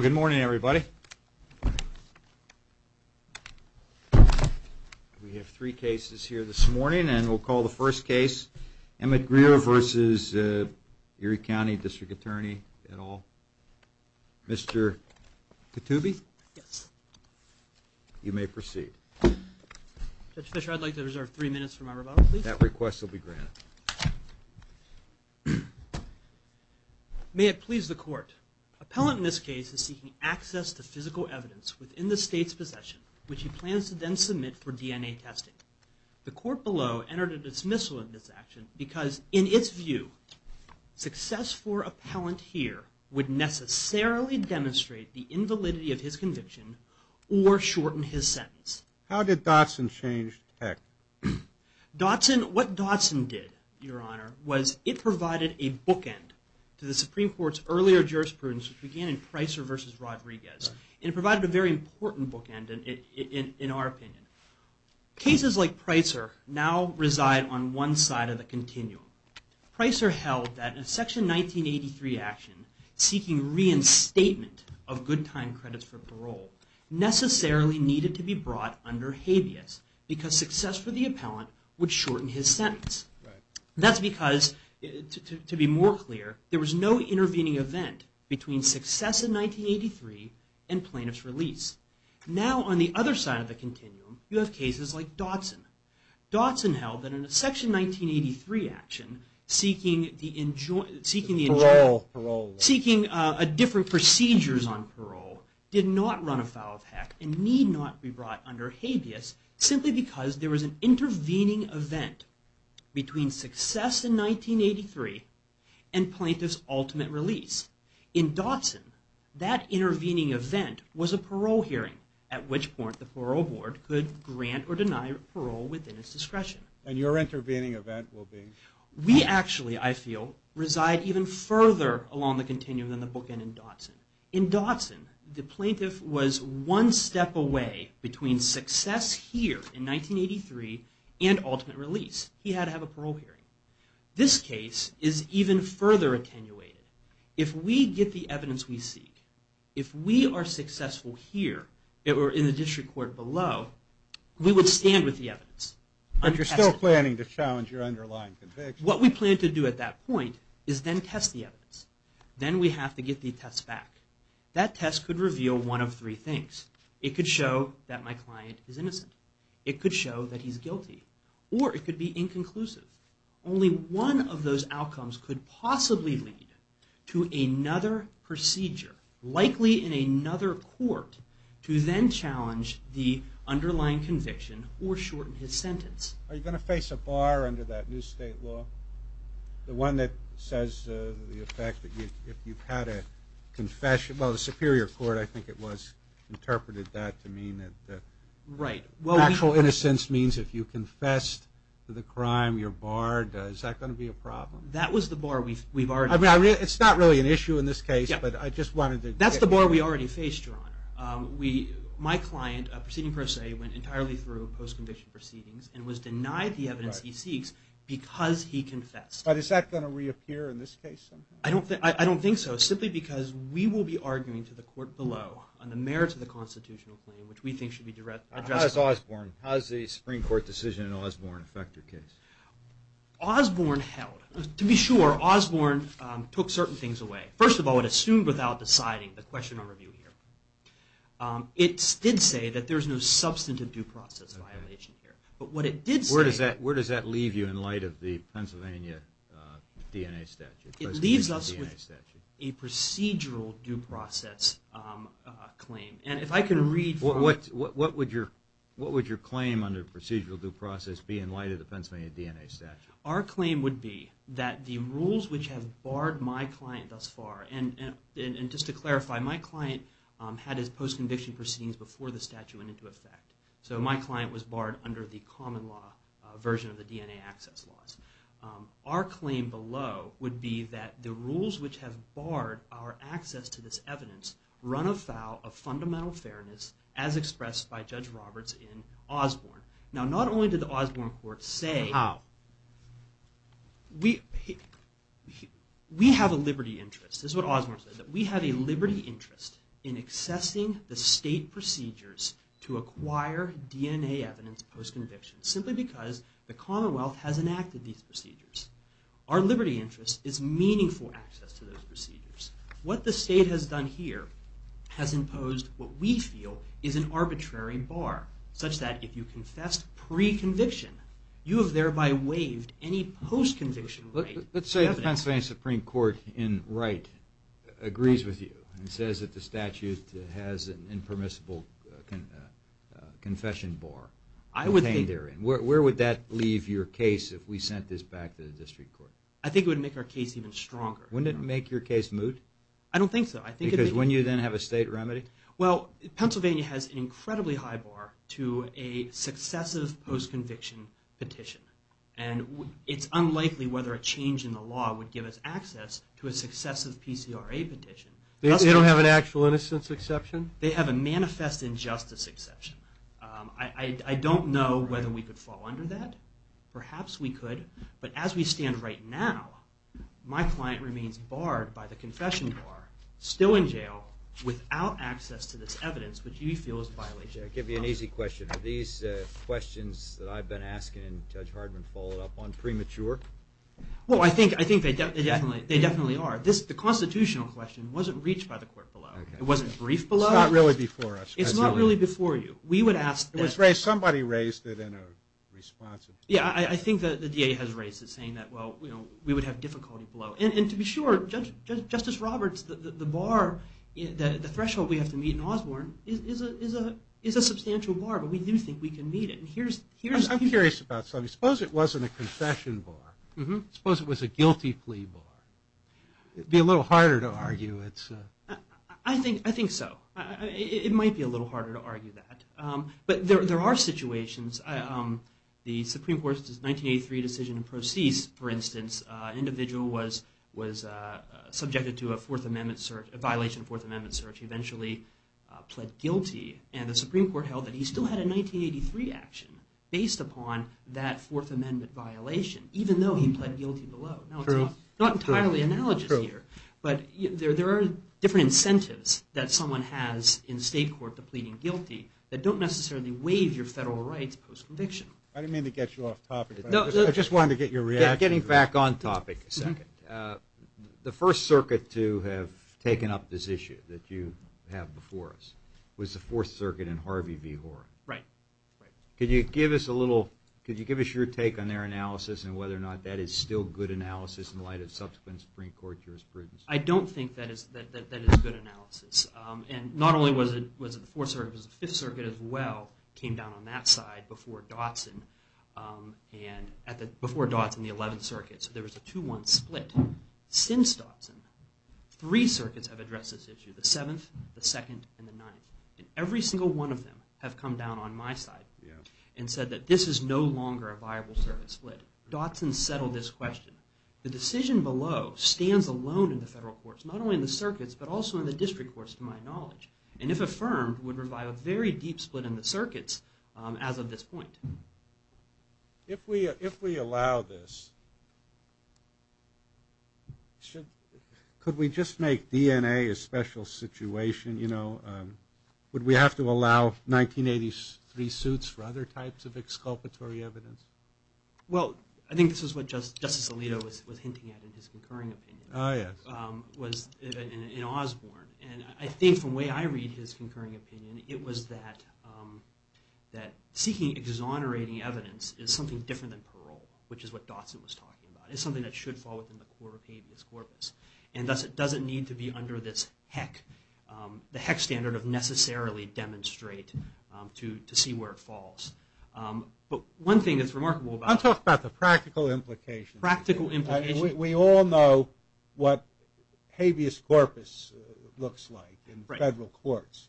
Good morning, everybody. We have three cases here this morning, and we'll call the first case Emmett Grier v. Erie County District Attorney et al. Mr. Ketubi? You may proceed. Judge Fischer, I'd like to reserve three minutes for my rebuttal, please. That request will be granted. May it please the court. Appellant in this case is seeking access to physical evidence within the state's possession, which he plans to then submit for DNA testing. The court below entered a dismissal in this action because, in its view, success for appellant here would necessarily demonstrate the invalidity of his conviction or shorten his sentence. How did Dotson change tactics? What Dotson did, Your Honor, was it provided a bookend to the Supreme Court's earlier jurisprudence, which began in Pricer v. Rodriguez. It provided a very important bookend, in our opinion. Cases like Pricer now reside on one side of the continuum. Pricer held that a Section 1983 action seeking reinstatement of good time credits for parole necessarily needed to be brought under habeas because success for the appellant would shorten his sentence. That's because, to be more clear, there was no intervening event between success in 1983 and plaintiff's release. Now, on the other side of the continuum, you have cases like Dotson. Dotson held that in a Section 1983 action, seeking different procedures on parole did not run afoul of Heck and need not be brought under habeas simply because there was an intervening event between success in 1983 and plaintiff's ultimate release. In Dotson, that intervening event was a parole hearing, at which point the Parole Board could grant or deny parole within its discretion. And your intervening event will be? We actually, I feel, reside even further along the continuum than the bookend in Dotson. In Dotson, the plaintiff was one step away between success here in 1983 and ultimate release. He had to have a parole hearing. This case is even further attenuated. If we get the evidence we seek, if we are successful here or in the district court below, we would stand with the evidence. But you're still planning to challenge your underlying conviction? What we plan to do at that point is then test the evidence. Then we have to get the attest back. That test could reveal one of three things. It could show that my client is innocent. It could show that he's guilty. Or it could be inconclusive. Only one of those outcomes could possibly lead to another procedure, likely in another court, to then challenge the underlying conviction or shorten his sentence. Are you going to face a bar under that new state law? The one that says the effect that you've had a confession. Well, the Superior Court, I think it was, interpreted that to mean that actual innocence means if you confessed to the crime, you're barred. Is that going to be a problem? That was the bar we've already faced. It's not really an issue in this case, but I just wanted to... That's the bar we already faced, Your Honor. My client, proceeding per se, went entirely through post-conviction proceedings and was denied the evidence he seeks because he confessed. But is that going to reappear in this case somehow? I don't think so, simply because we will be arguing to the court below on the merits of the constitutional claim, which we think should be addressed. How does Osborne, how does the Supreme Court decision in Osborne affect your case? Osborne held. To be sure, Osborne took certain things away. First of all, it assumed without deciding the question on review here. It did say that there's no substantive due process violation here. But what it did say... Where does that leave you in light of the Pennsylvania DNA statute? It leaves us with a procedural due process claim. And if I can read from... What would your claim under procedural due process be in light of the Pennsylvania DNA statute? Our claim would be that the rules which have barred my client thus far, and just to clarify, my client had his post-conviction proceedings before the statute went into effect. So my client was barred under the common law version of the DNA access laws. Our claim below would be that the rules which have barred our access to this evidence run afoul of fundamental fairness as expressed by Judge Roberts in Osborne. Now, not only did the Osborne court say... How? We have a liberty interest. This is what Osborne said, that we have a liberty interest in accessing the state procedures to acquire DNA evidence post-conviction, simply because the Commonwealth has enacted these procedures. Our liberty interest is meaningful access to those procedures. What the state has done here has imposed what we feel is an arbitrary bar, such that if you confessed pre-conviction, you have thereby waived any post-conviction evidence. Let's say the Pennsylvania Supreme Court, in Wright, agrees with you and says that the statute has an impermissible confession bar contained therein. Where would that leave your case if we sent this back to the district court? I think it would make our case even stronger. Wouldn't it make your case moot? I don't think so. Because wouldn't you then have a state remedy? Well, Pennsylvania has an incredibly high bar to a successive post-conviction petition. And it's unlikely whether a change in the law would give us access to a successive PCRA petition. They don't have an actual innocence exception? They have a manifest injustice exception. I don't know whether we could fall under that. Perhaps we could. But as we stand right now, my client remains barred by the confession bar, still in jail, without access to this evidence, which we feel is a violation of the Constitution. I'll give you an easy question. Are these questions that I've been asking Judge Hardman followed up on premature? Well, I think they definitely are. The constitutional question wasn't reached by the court below. It wasn't briefed below? It's not really before us. It's not really before you. We would ask that... It was raised, somebody raised it in a responsive... Yeah, I think that the DA has raised it, saying that, well, we would have difficulty below. And to be sure, Justice Roberts, the bar, the threshold we have to meet in Osborne, is a substantial bar, but we do think we can meet it. And here's... I'm curious about something. Suppose it wasn't a confession bar. Suppose it was a guilty plea bar. It'd be a little harder to argue. I think so. It might be a little harder to argue that. But there are situations. The Supreme Court's 1983 decision in Procease, for instance, an individual was subjected to a fourth amendment search, a violation of a fourth amendment search. He eventually pled guilty, and the Supreme Court held that he still had a 1983 action, based upon that fourth amendment violation, even though he pled guilty below. True. I'm not entirely analogous here, but there are different incentives that someone has in state court to pleading guilty that don't necessarily waive your federal rights post-conviction. I didn't mean to get you off topic, but I just wanted to get your reaction. Getting back on topic a second. The First Circuit to have taken up this issue that you have before us was the Fourth Circuit and Harvey V. Hoare. Right. Could you give us a little... Could you give us your take on their analysis and whether or not that is still good analysis in light of subsequent Supreme Court jurisprudence? I don't think that is good analysis. And not only was it the Fourth Circuit, it was the Fifth Circuit as well, came down on that side before Dotson. Before Dotson, the Eleventh Circuit. So there was a 2-1 split. Since Dotson, three circuits have addressed this issue. The Seventh, the Second, and the Ninth. Every single one of them have come down on my side and said that this is no longer a viable circuit split. Dotson settled this question. The decision below stands alone in the federal courts. Not only in the circuits, but also in the district courts, to my knowledge. And if affirmed, would provide a very deep split in the circuits as of this point. If we allow this, could we just make DNA a special situation? Would we have to allow 1983 suits for other types of exculpatory evidence? Well, I think this is what Justice Alito was hinting at in his concurring opinion. It was in Osborne. And I think from the way I read his concurring opinion, it was that seeking exonerating evidence is something different than parole, which is what Dotson was talking about. It's something that should fall within the core of habeas corpus. And thus it doesn't need to be under this HEC. The HEC standard of necessarily demonstrate to see where it falls. But one thing that's remarkable about... I'll talk about the practical implications. We all know what habeas corpus looks like in federal courts.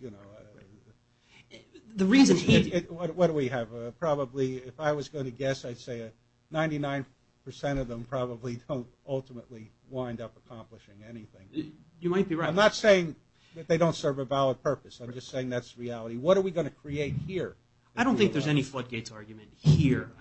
What do we have? Probably, if I was going to guess, 99% of them probably don't ultimately wind up accomplishing anything. I'm not saying that they don't serve a valid purpose. I'm just saying that's reality. What are we going to create here? I don't think there's any floodgates argument here.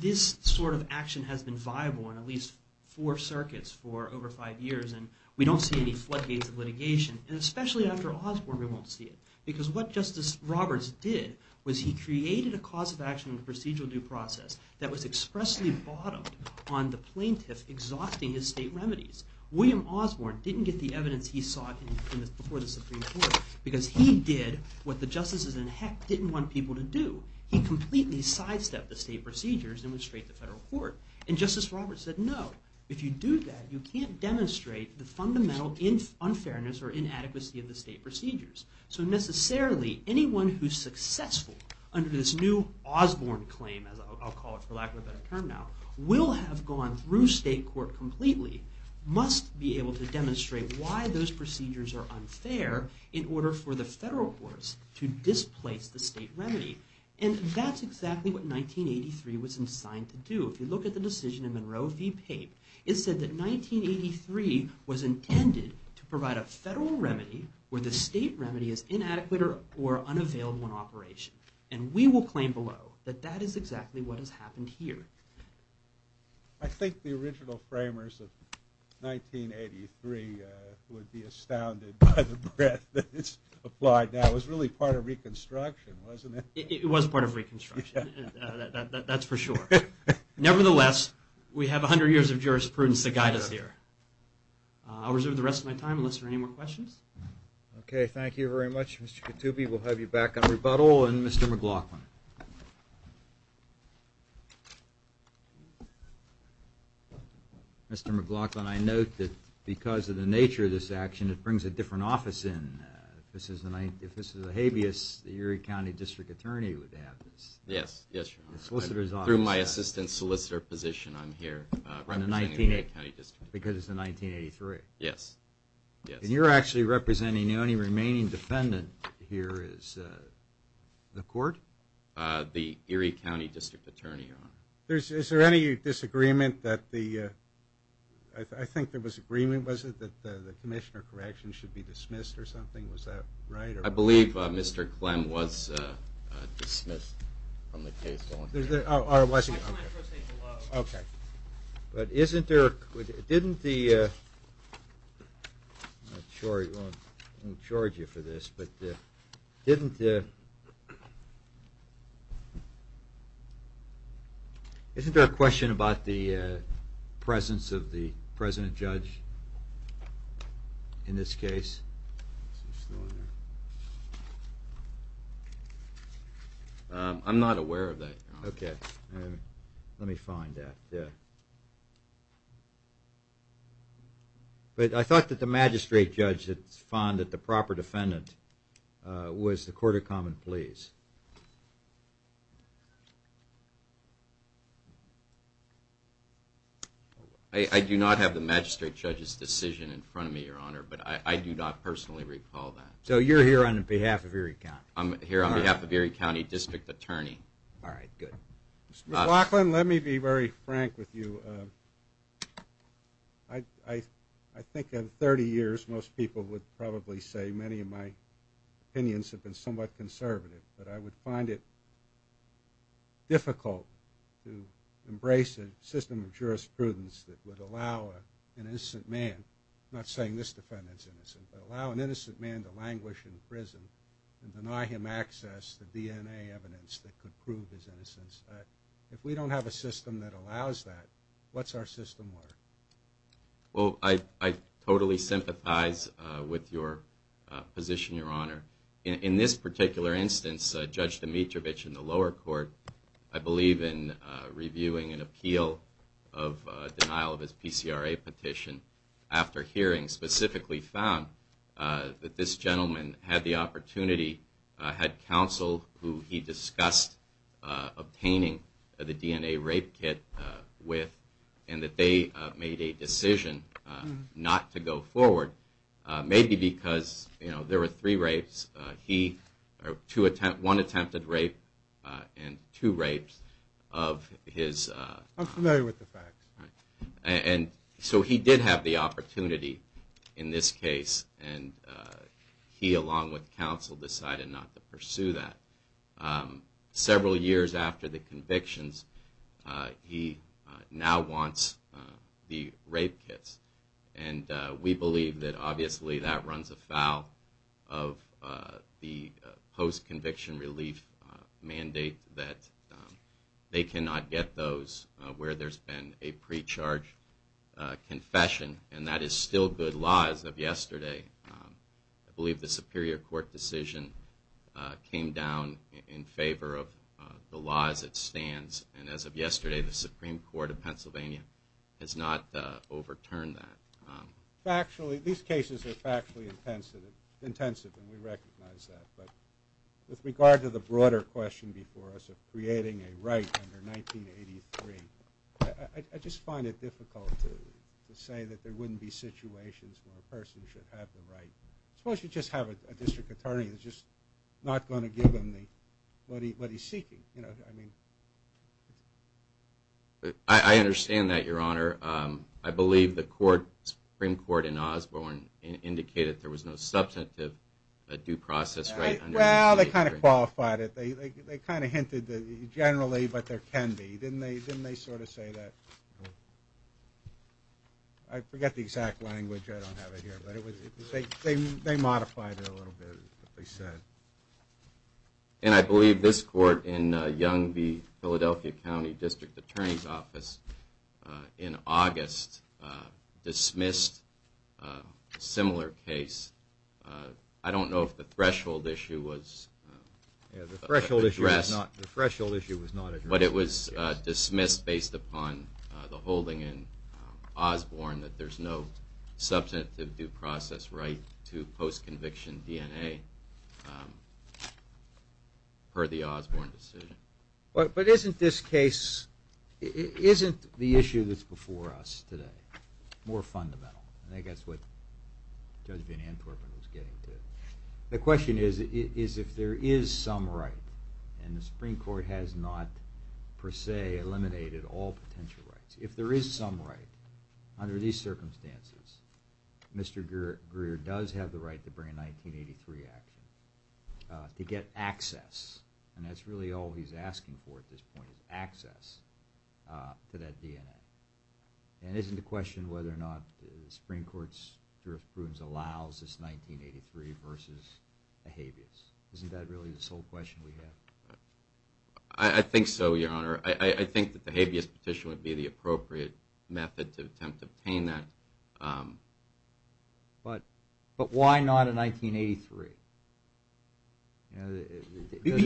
This sort of action has been viable in at least 4 circuits for over 5 years. And we don't see any floodgates of litigation. And especially after Osborne, we won't see it. Because what Justice Roberts did was he created a cause of action in the procedural due process that was expressly bottomed on the plaintiff exhausting his state remedies. William Osborne didn't get the evidence he sought before the Supreme Court because he did what the justices in HEC didn't want people to do. He completely sidestepped the state procedures and went straight to federal court. And Justice Roberts said, no, if you do that, you can't demonstrate the fundamental unfairness or inadequacy of the state procedures. So necessarily, anyone who's successful under this new Osborne claim, I'll call it for lack of a better term now, will have gone through state court completely must be able to demonstrate why those procedures are unfair in order for the federal courts to displace the state remedy. And that's exactly what 1983 was designed to do. If you look at the decision in Monroe v. Pape, it said that 1983 was intended to provide a federal remedy where the state remedy is inadequate or unavailable in operation. And we will claim below that that is exactly what has happened here. I think the original framers of 1983 would be astounded by the breadth that is applied now. It was really part of Reconstruction, wasn't it? It was part of Reconstruction, that's for sure. Nevertheless, we have 100 years of jurisprudence to guide us here. I'll reserve the rest of my time unless there are any more questions. Okay, thank you very much, Mr. Katoubi. We'll have you back on rebuttal. And Mr. McLaughlin. Mr. McLaughlin, Mr. McLaughlin, I note that because of the nature of this action, it brings a different office in. If this was a habeas, the Erie County District Attorney would have this. Through my assistant solicitor position, I'm here. Because it's in 1983? Yes. And you're actually representing the only remaining defendant here is the court? The Erie County District Attorney. Is there any disagreement that the I think there was agreement, was it, that the commissioner correction should be dismissed or something? I believe Mr. Clem was dismissed from the case. Okay. But isn't there I'm not sure I won't charge you for this, but isn't there isn't there a question about the presence of the President Judge in this case? I'm not aware of that. Okay. Let me find that. But I thought that the magistrate judge found that the proper defendant was the Court of Common Pleas. I do not have the magistrate judge's decision in front of me, Your Honor, but I do not personally recall that. So you're here on behalf of Erie County? I'm here on behalf of Erie County District Attorney. All right. Good. Mr. Laughlin, let me be very frank with you. I think in 30 years most people would probably say many of my opinions have been somewhat conservative, but I would find it difficult to embrace a system of jurisprudence that would allow an innocent man, not saying this defendant's innocent, but allow an innocent man to languish in prison and deny him access to DNA evidence that could prove his innocence. If we don't have a system that allows that, what's our system worth? I totally sympathize with your position, Your Honor. In this particular instance, Judge Dimitrovich in the lower court I believe in reviewing an appeal of denial of his PCRA petition after hearing specifically found that this gentleman had the opportunity had counsel who he discussed obtaining the DNA rape kit with and that they made a decision not to go forward. Maybe because there were three rapes. One attempted rape and two rapes of his... I'm familiar with And so he did have the opportunity in this case and he along with counsel decided not to pursue that. Several years after the convictions, he now wants the rape kits and we believe that obviously that runs afoul of the post-conviction relief mandate that they cannot get those where there's been a pre-charge confession and that is still good law as of yesterday. I believe the superior court decision came down in favor of the law as it stands and as of yesterday the Supreme Court of Pennsylvania has not overturned that. Factually, these cases are factually intensive and we recognize that. With regard to the broader question before us of creating a right under 1983 I just find it difficult to say that there wouldn't be situations where a person should have the right Suppose you just have a district attorney that's just not going to give him what he's seeking. You know, I mean... I understand that, Your Honor. I believe the Supreme Court in Osborne indicated that there was no substantive due process right under 1983. Well, they kind of qualified it. They kind of hinted that generally, but there can be. Didn't they sort of say that? I forget the exact language. I don't have it here. They modified it a little bit. And I believe this court in Young v. Philadelphia County District Attorney's Office in August dismissed a similar case. I don't know if the threshold issue was addressed but it was dismissed based upon the holding in Osborne that there's no substantive due process right to post-conviction DNA per the Osborne decision. But isn't this case Isn't the issue that's before us today more fundamental? I think that's what Judge Van Antwerpen was getting to. The question is if there is some right and the Supreme Court has not per se eliminated all potential rights. If there is some right under these circumstances, Mr. Greer does have the right to bring a 1983 action to get access. And that's really all he's asking for at this point is access to that DNA. And isn't the question whether or not the Supreme Court's jurisprudence allows this 1983 versus a habeas? Isn't that really the sole question we have? I think so, Your Honor. I think that the habeas petition would be the appropriate method to attempt to obtain that. But why not a 1983?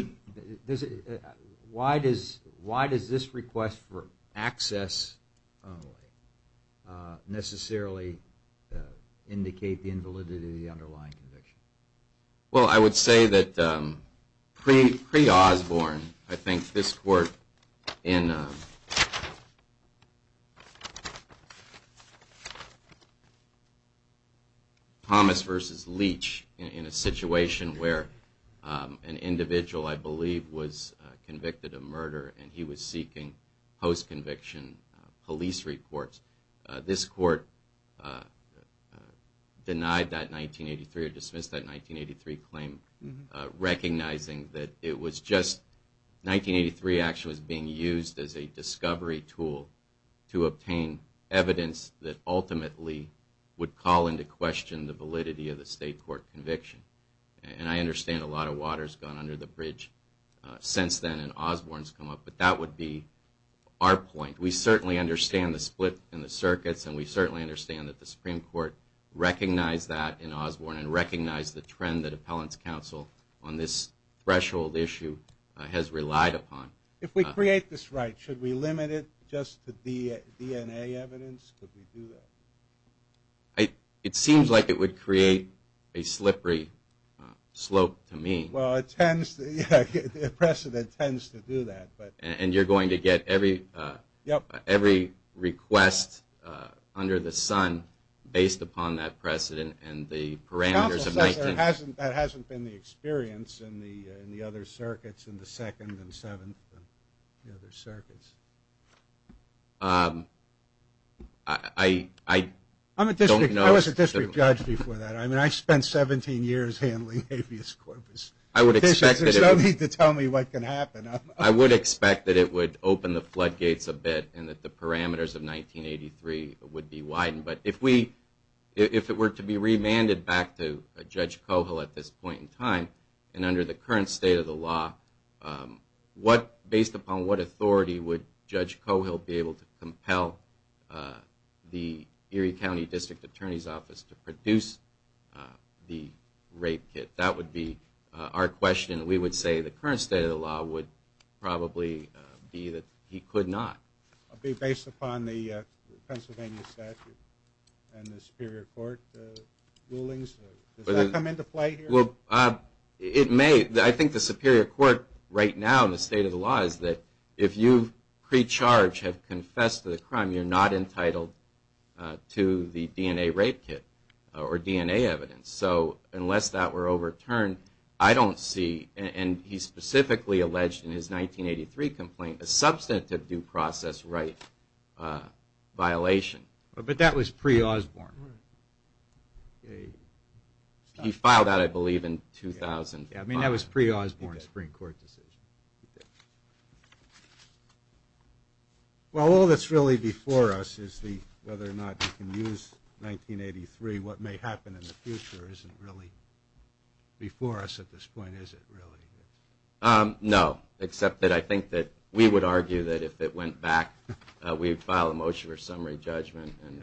Why does this request for access only necessarily indicate the invalidity of the underlying conviction? Well, I would say that pre-Osborne I think this Court in Thomas versus Leach in a situation where an individual, I believe, was convicted of murder and he was seeking post-conviction police reports. This Court denied that 1983 or dismissed that 1983 claim recognizing that it was just 1983 action was being used as a discovery tool to obtain evidence that ultimately would call into question the validity of the state court conviction. And I understand a lot of water's gone under the bridge since then and Osborne's come up, but that would be our point. We certainly understand the split in the circuits and we certainly understand that the Supreme Court recognized that in Osborne and recognized the trend that Appellant's Counsel on this threshold issue has relied upon. If we create this right, should we limit it just to DNA evidence? It seems like it would create a slippery slope to me. And you're going to get every request under the sun based upon that precedent and the parameters. That hasn't been the experience in the other circuits in the 2nd and 7th. I don't know. I was a district judge before that. I spent 17 years handling habeas corpus. There's no need to tell me what can happen. I would expect that it would open the floodgates a bit and that the parameters of 1983 would be widened. But if it were to be remanded back to Judge Koval at this point in time and under the same circumstances, based upon what authority would Judge Koval be able to compel the Erie County District Attorney's Office to produce the rape kit? That would be our question. We would say the current state of the law would probably be that he could not. Based upon the Pennsylvania statute and the Superior Court rulings? Does that come into play here? I think the Superior Court right now in the state of the law is that if you pre-charge have confessed to the crime, you're not entitled to the DNA rape kit or DNA evidence. So unless that were overturned, I don't see, and he specifically alleged in his 1983 complaint, a substantive due process right violation. But that was pre-Osborne. He filed that, I believe, in 2005. I mean, that was pre-Osborne Supreme Court decision. Well, all that's really before us is whether or not you can use 1983. What may happen in the future isn't really before us at this point, is it, really? No, except that I think that we would argue that if it went back, we'd file a motion for summary judgment and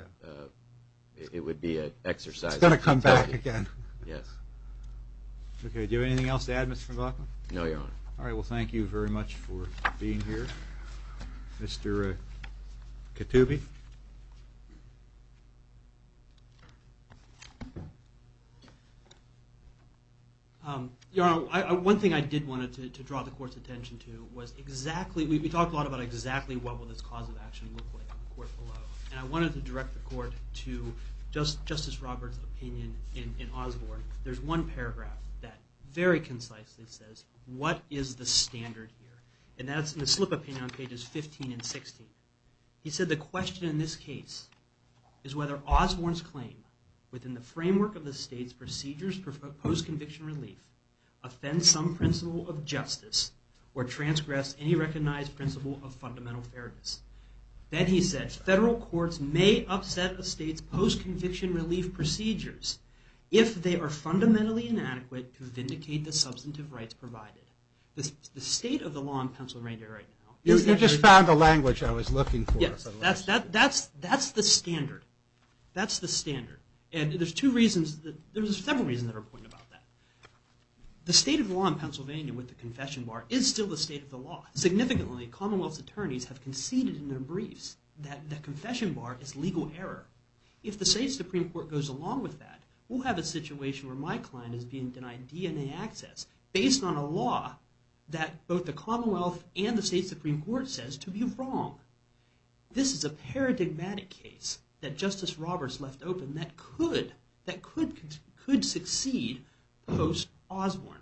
it would be an exercise. It's going to come back again. Do you have anything else to add, Mr. Van Valken? No, Your Honor. All right, well, thank you very much for being here. Mr. Katube? Your Honor, one thing I did want to draw the court's attention to was exactly, we talk a lot about exactly what will this cause of action look like in the court below. And I wanted to direct the court to Justice Roberts' opinion in Osborne. There's one paragraph that very concisely says, what is the standard here? And that's in the slip opinion on pages 15 and 16. He said, the question in this case is whether Osborne's claim within the framework of the state's procedures for post-conviction relief offends some principle of justice or transgressed any recognized principle of fundamental fairness. Then he said, federal courts may upset the state's post-conviction relief procedures if they are fundamentally inadequate to vindicate the substantive rights provided. The state of the law in Pennsylvania right now... You just found the language I was looking for. That's the standard. That's the standard. There's several reasons that are important about that. The state of the law in Pennsylvania with the confession bar is still the state of the law. Significantly, Commonwealth's attorneys have conceded in their briefs that the confession bar is legal error. If the state Supreme Court goes along with that, we'll have a situation where my client is being denied DNA access based on a law that both the Commonwealth and the state Supreme Court says to be wrong. This is a paradigmatic case that Justice Roberts left open that could succeed post-Osborne.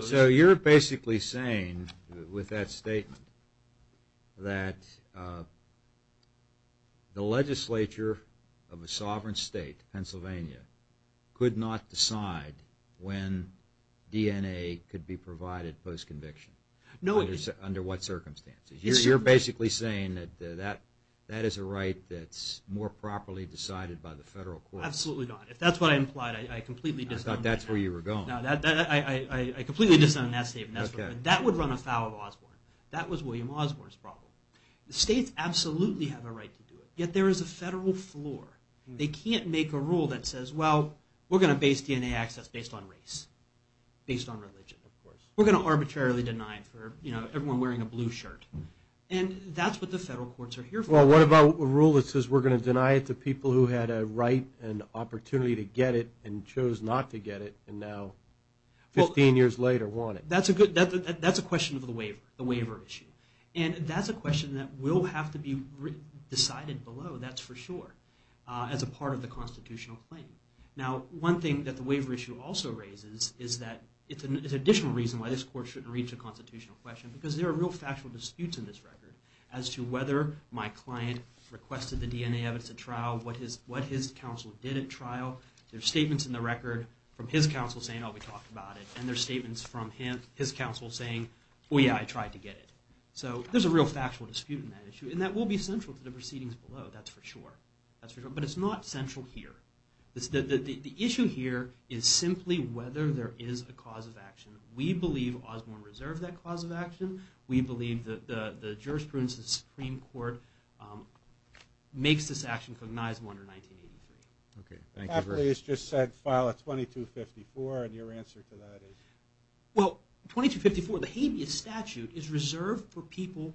So you're basically saying with that statement that the legislature of a sovereign state, Pennsylvania, could not decide when DNA could be provided post-conviction. Under what circumstances? You're basically saying that that is a right that's more properly decided by the federal court. Absolutely not. That would run afoul of Osborne. That was William Osborne's problem. The states absolutely have a right to do it. Yet there is a federal floor. They can't make a rule that says, we're going to base DNA access based on race. Based on religion, of course. We're going to arbitrarily deny it for everyone wearing a blue shirt. That's what the federal courts are here for. What about a rule that says we're going to deny it to people who had a right and opportunity to get it and chose not to get it and now 15 years later want it? That's a question of the waiver issue. That's a question that will have to be decided below, that's for sure, as a part of the constitutional claim. One thing that the waiver issue also raises is that it's an additional reason why this court shouldn't reach a constitutional question because there are real factual disputes in this record as to whether my client requested the DNA evidence at trial, what his counsel did at trial. There are statements in the record from his counsel saying, oh, we talked about it. And there are statements from his counsel saying, oh yeah, I tried to get it. So there's a real factual dispute in that issue and that will be central to the proceedings below, that's for sure. But it's not central here. The issue here is simply whether there is a cause of action. We believe Osborne reserved that cause of action. We believe that the jurisprudence of the Supreme Court makes this action cognizable under 1983. Okay, thank you. Papalese just said file a 2254 and your answer to that is? Well, 2254, the habeas statute, is reserved for people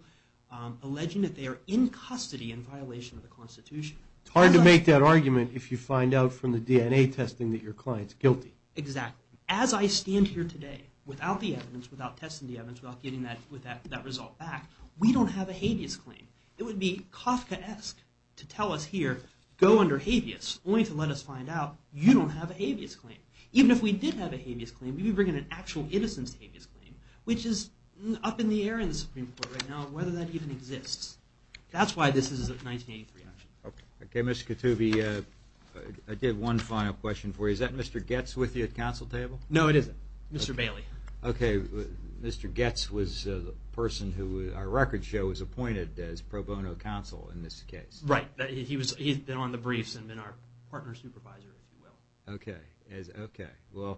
alleging that they are in custody in violation of the Constitution. It's hard to make that argument if you find out from the DNA testing that your client's guilty. Exactly. As I stand here today, without the evidence, without testing the evidence, without getting that result back, we don't have a habeas claim. It would be Kafkaesque to tell us here, go under habeas, only to let us find out you don't have a habeas claim. Even if we did have a habeas claim, we'd be bringing an actual innocence habeas claim, which is up in the air in the Supreme Court right now, whether that even exists. That's why this is a 1983 action. Okay, Mr. Katoubi, I did one final question for you. Is that Mr. Goetz with you at counsel table? No, it isn't. Mr. Bailey. Okay, Mr. Goetz was the person who our record show was appointed as pro bono counsel in this case. Right. He's been on the briefs and been our partner supervisor, if you will. Okay. Well,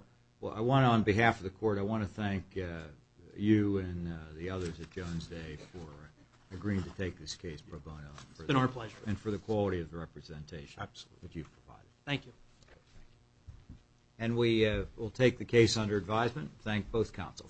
I want to, on behalf of the court, I want to thank you and the others at Jones Day for agreeing to take this case pro bono. It's been our pleasure. And for the quality of the representation that you've provided. Thank you.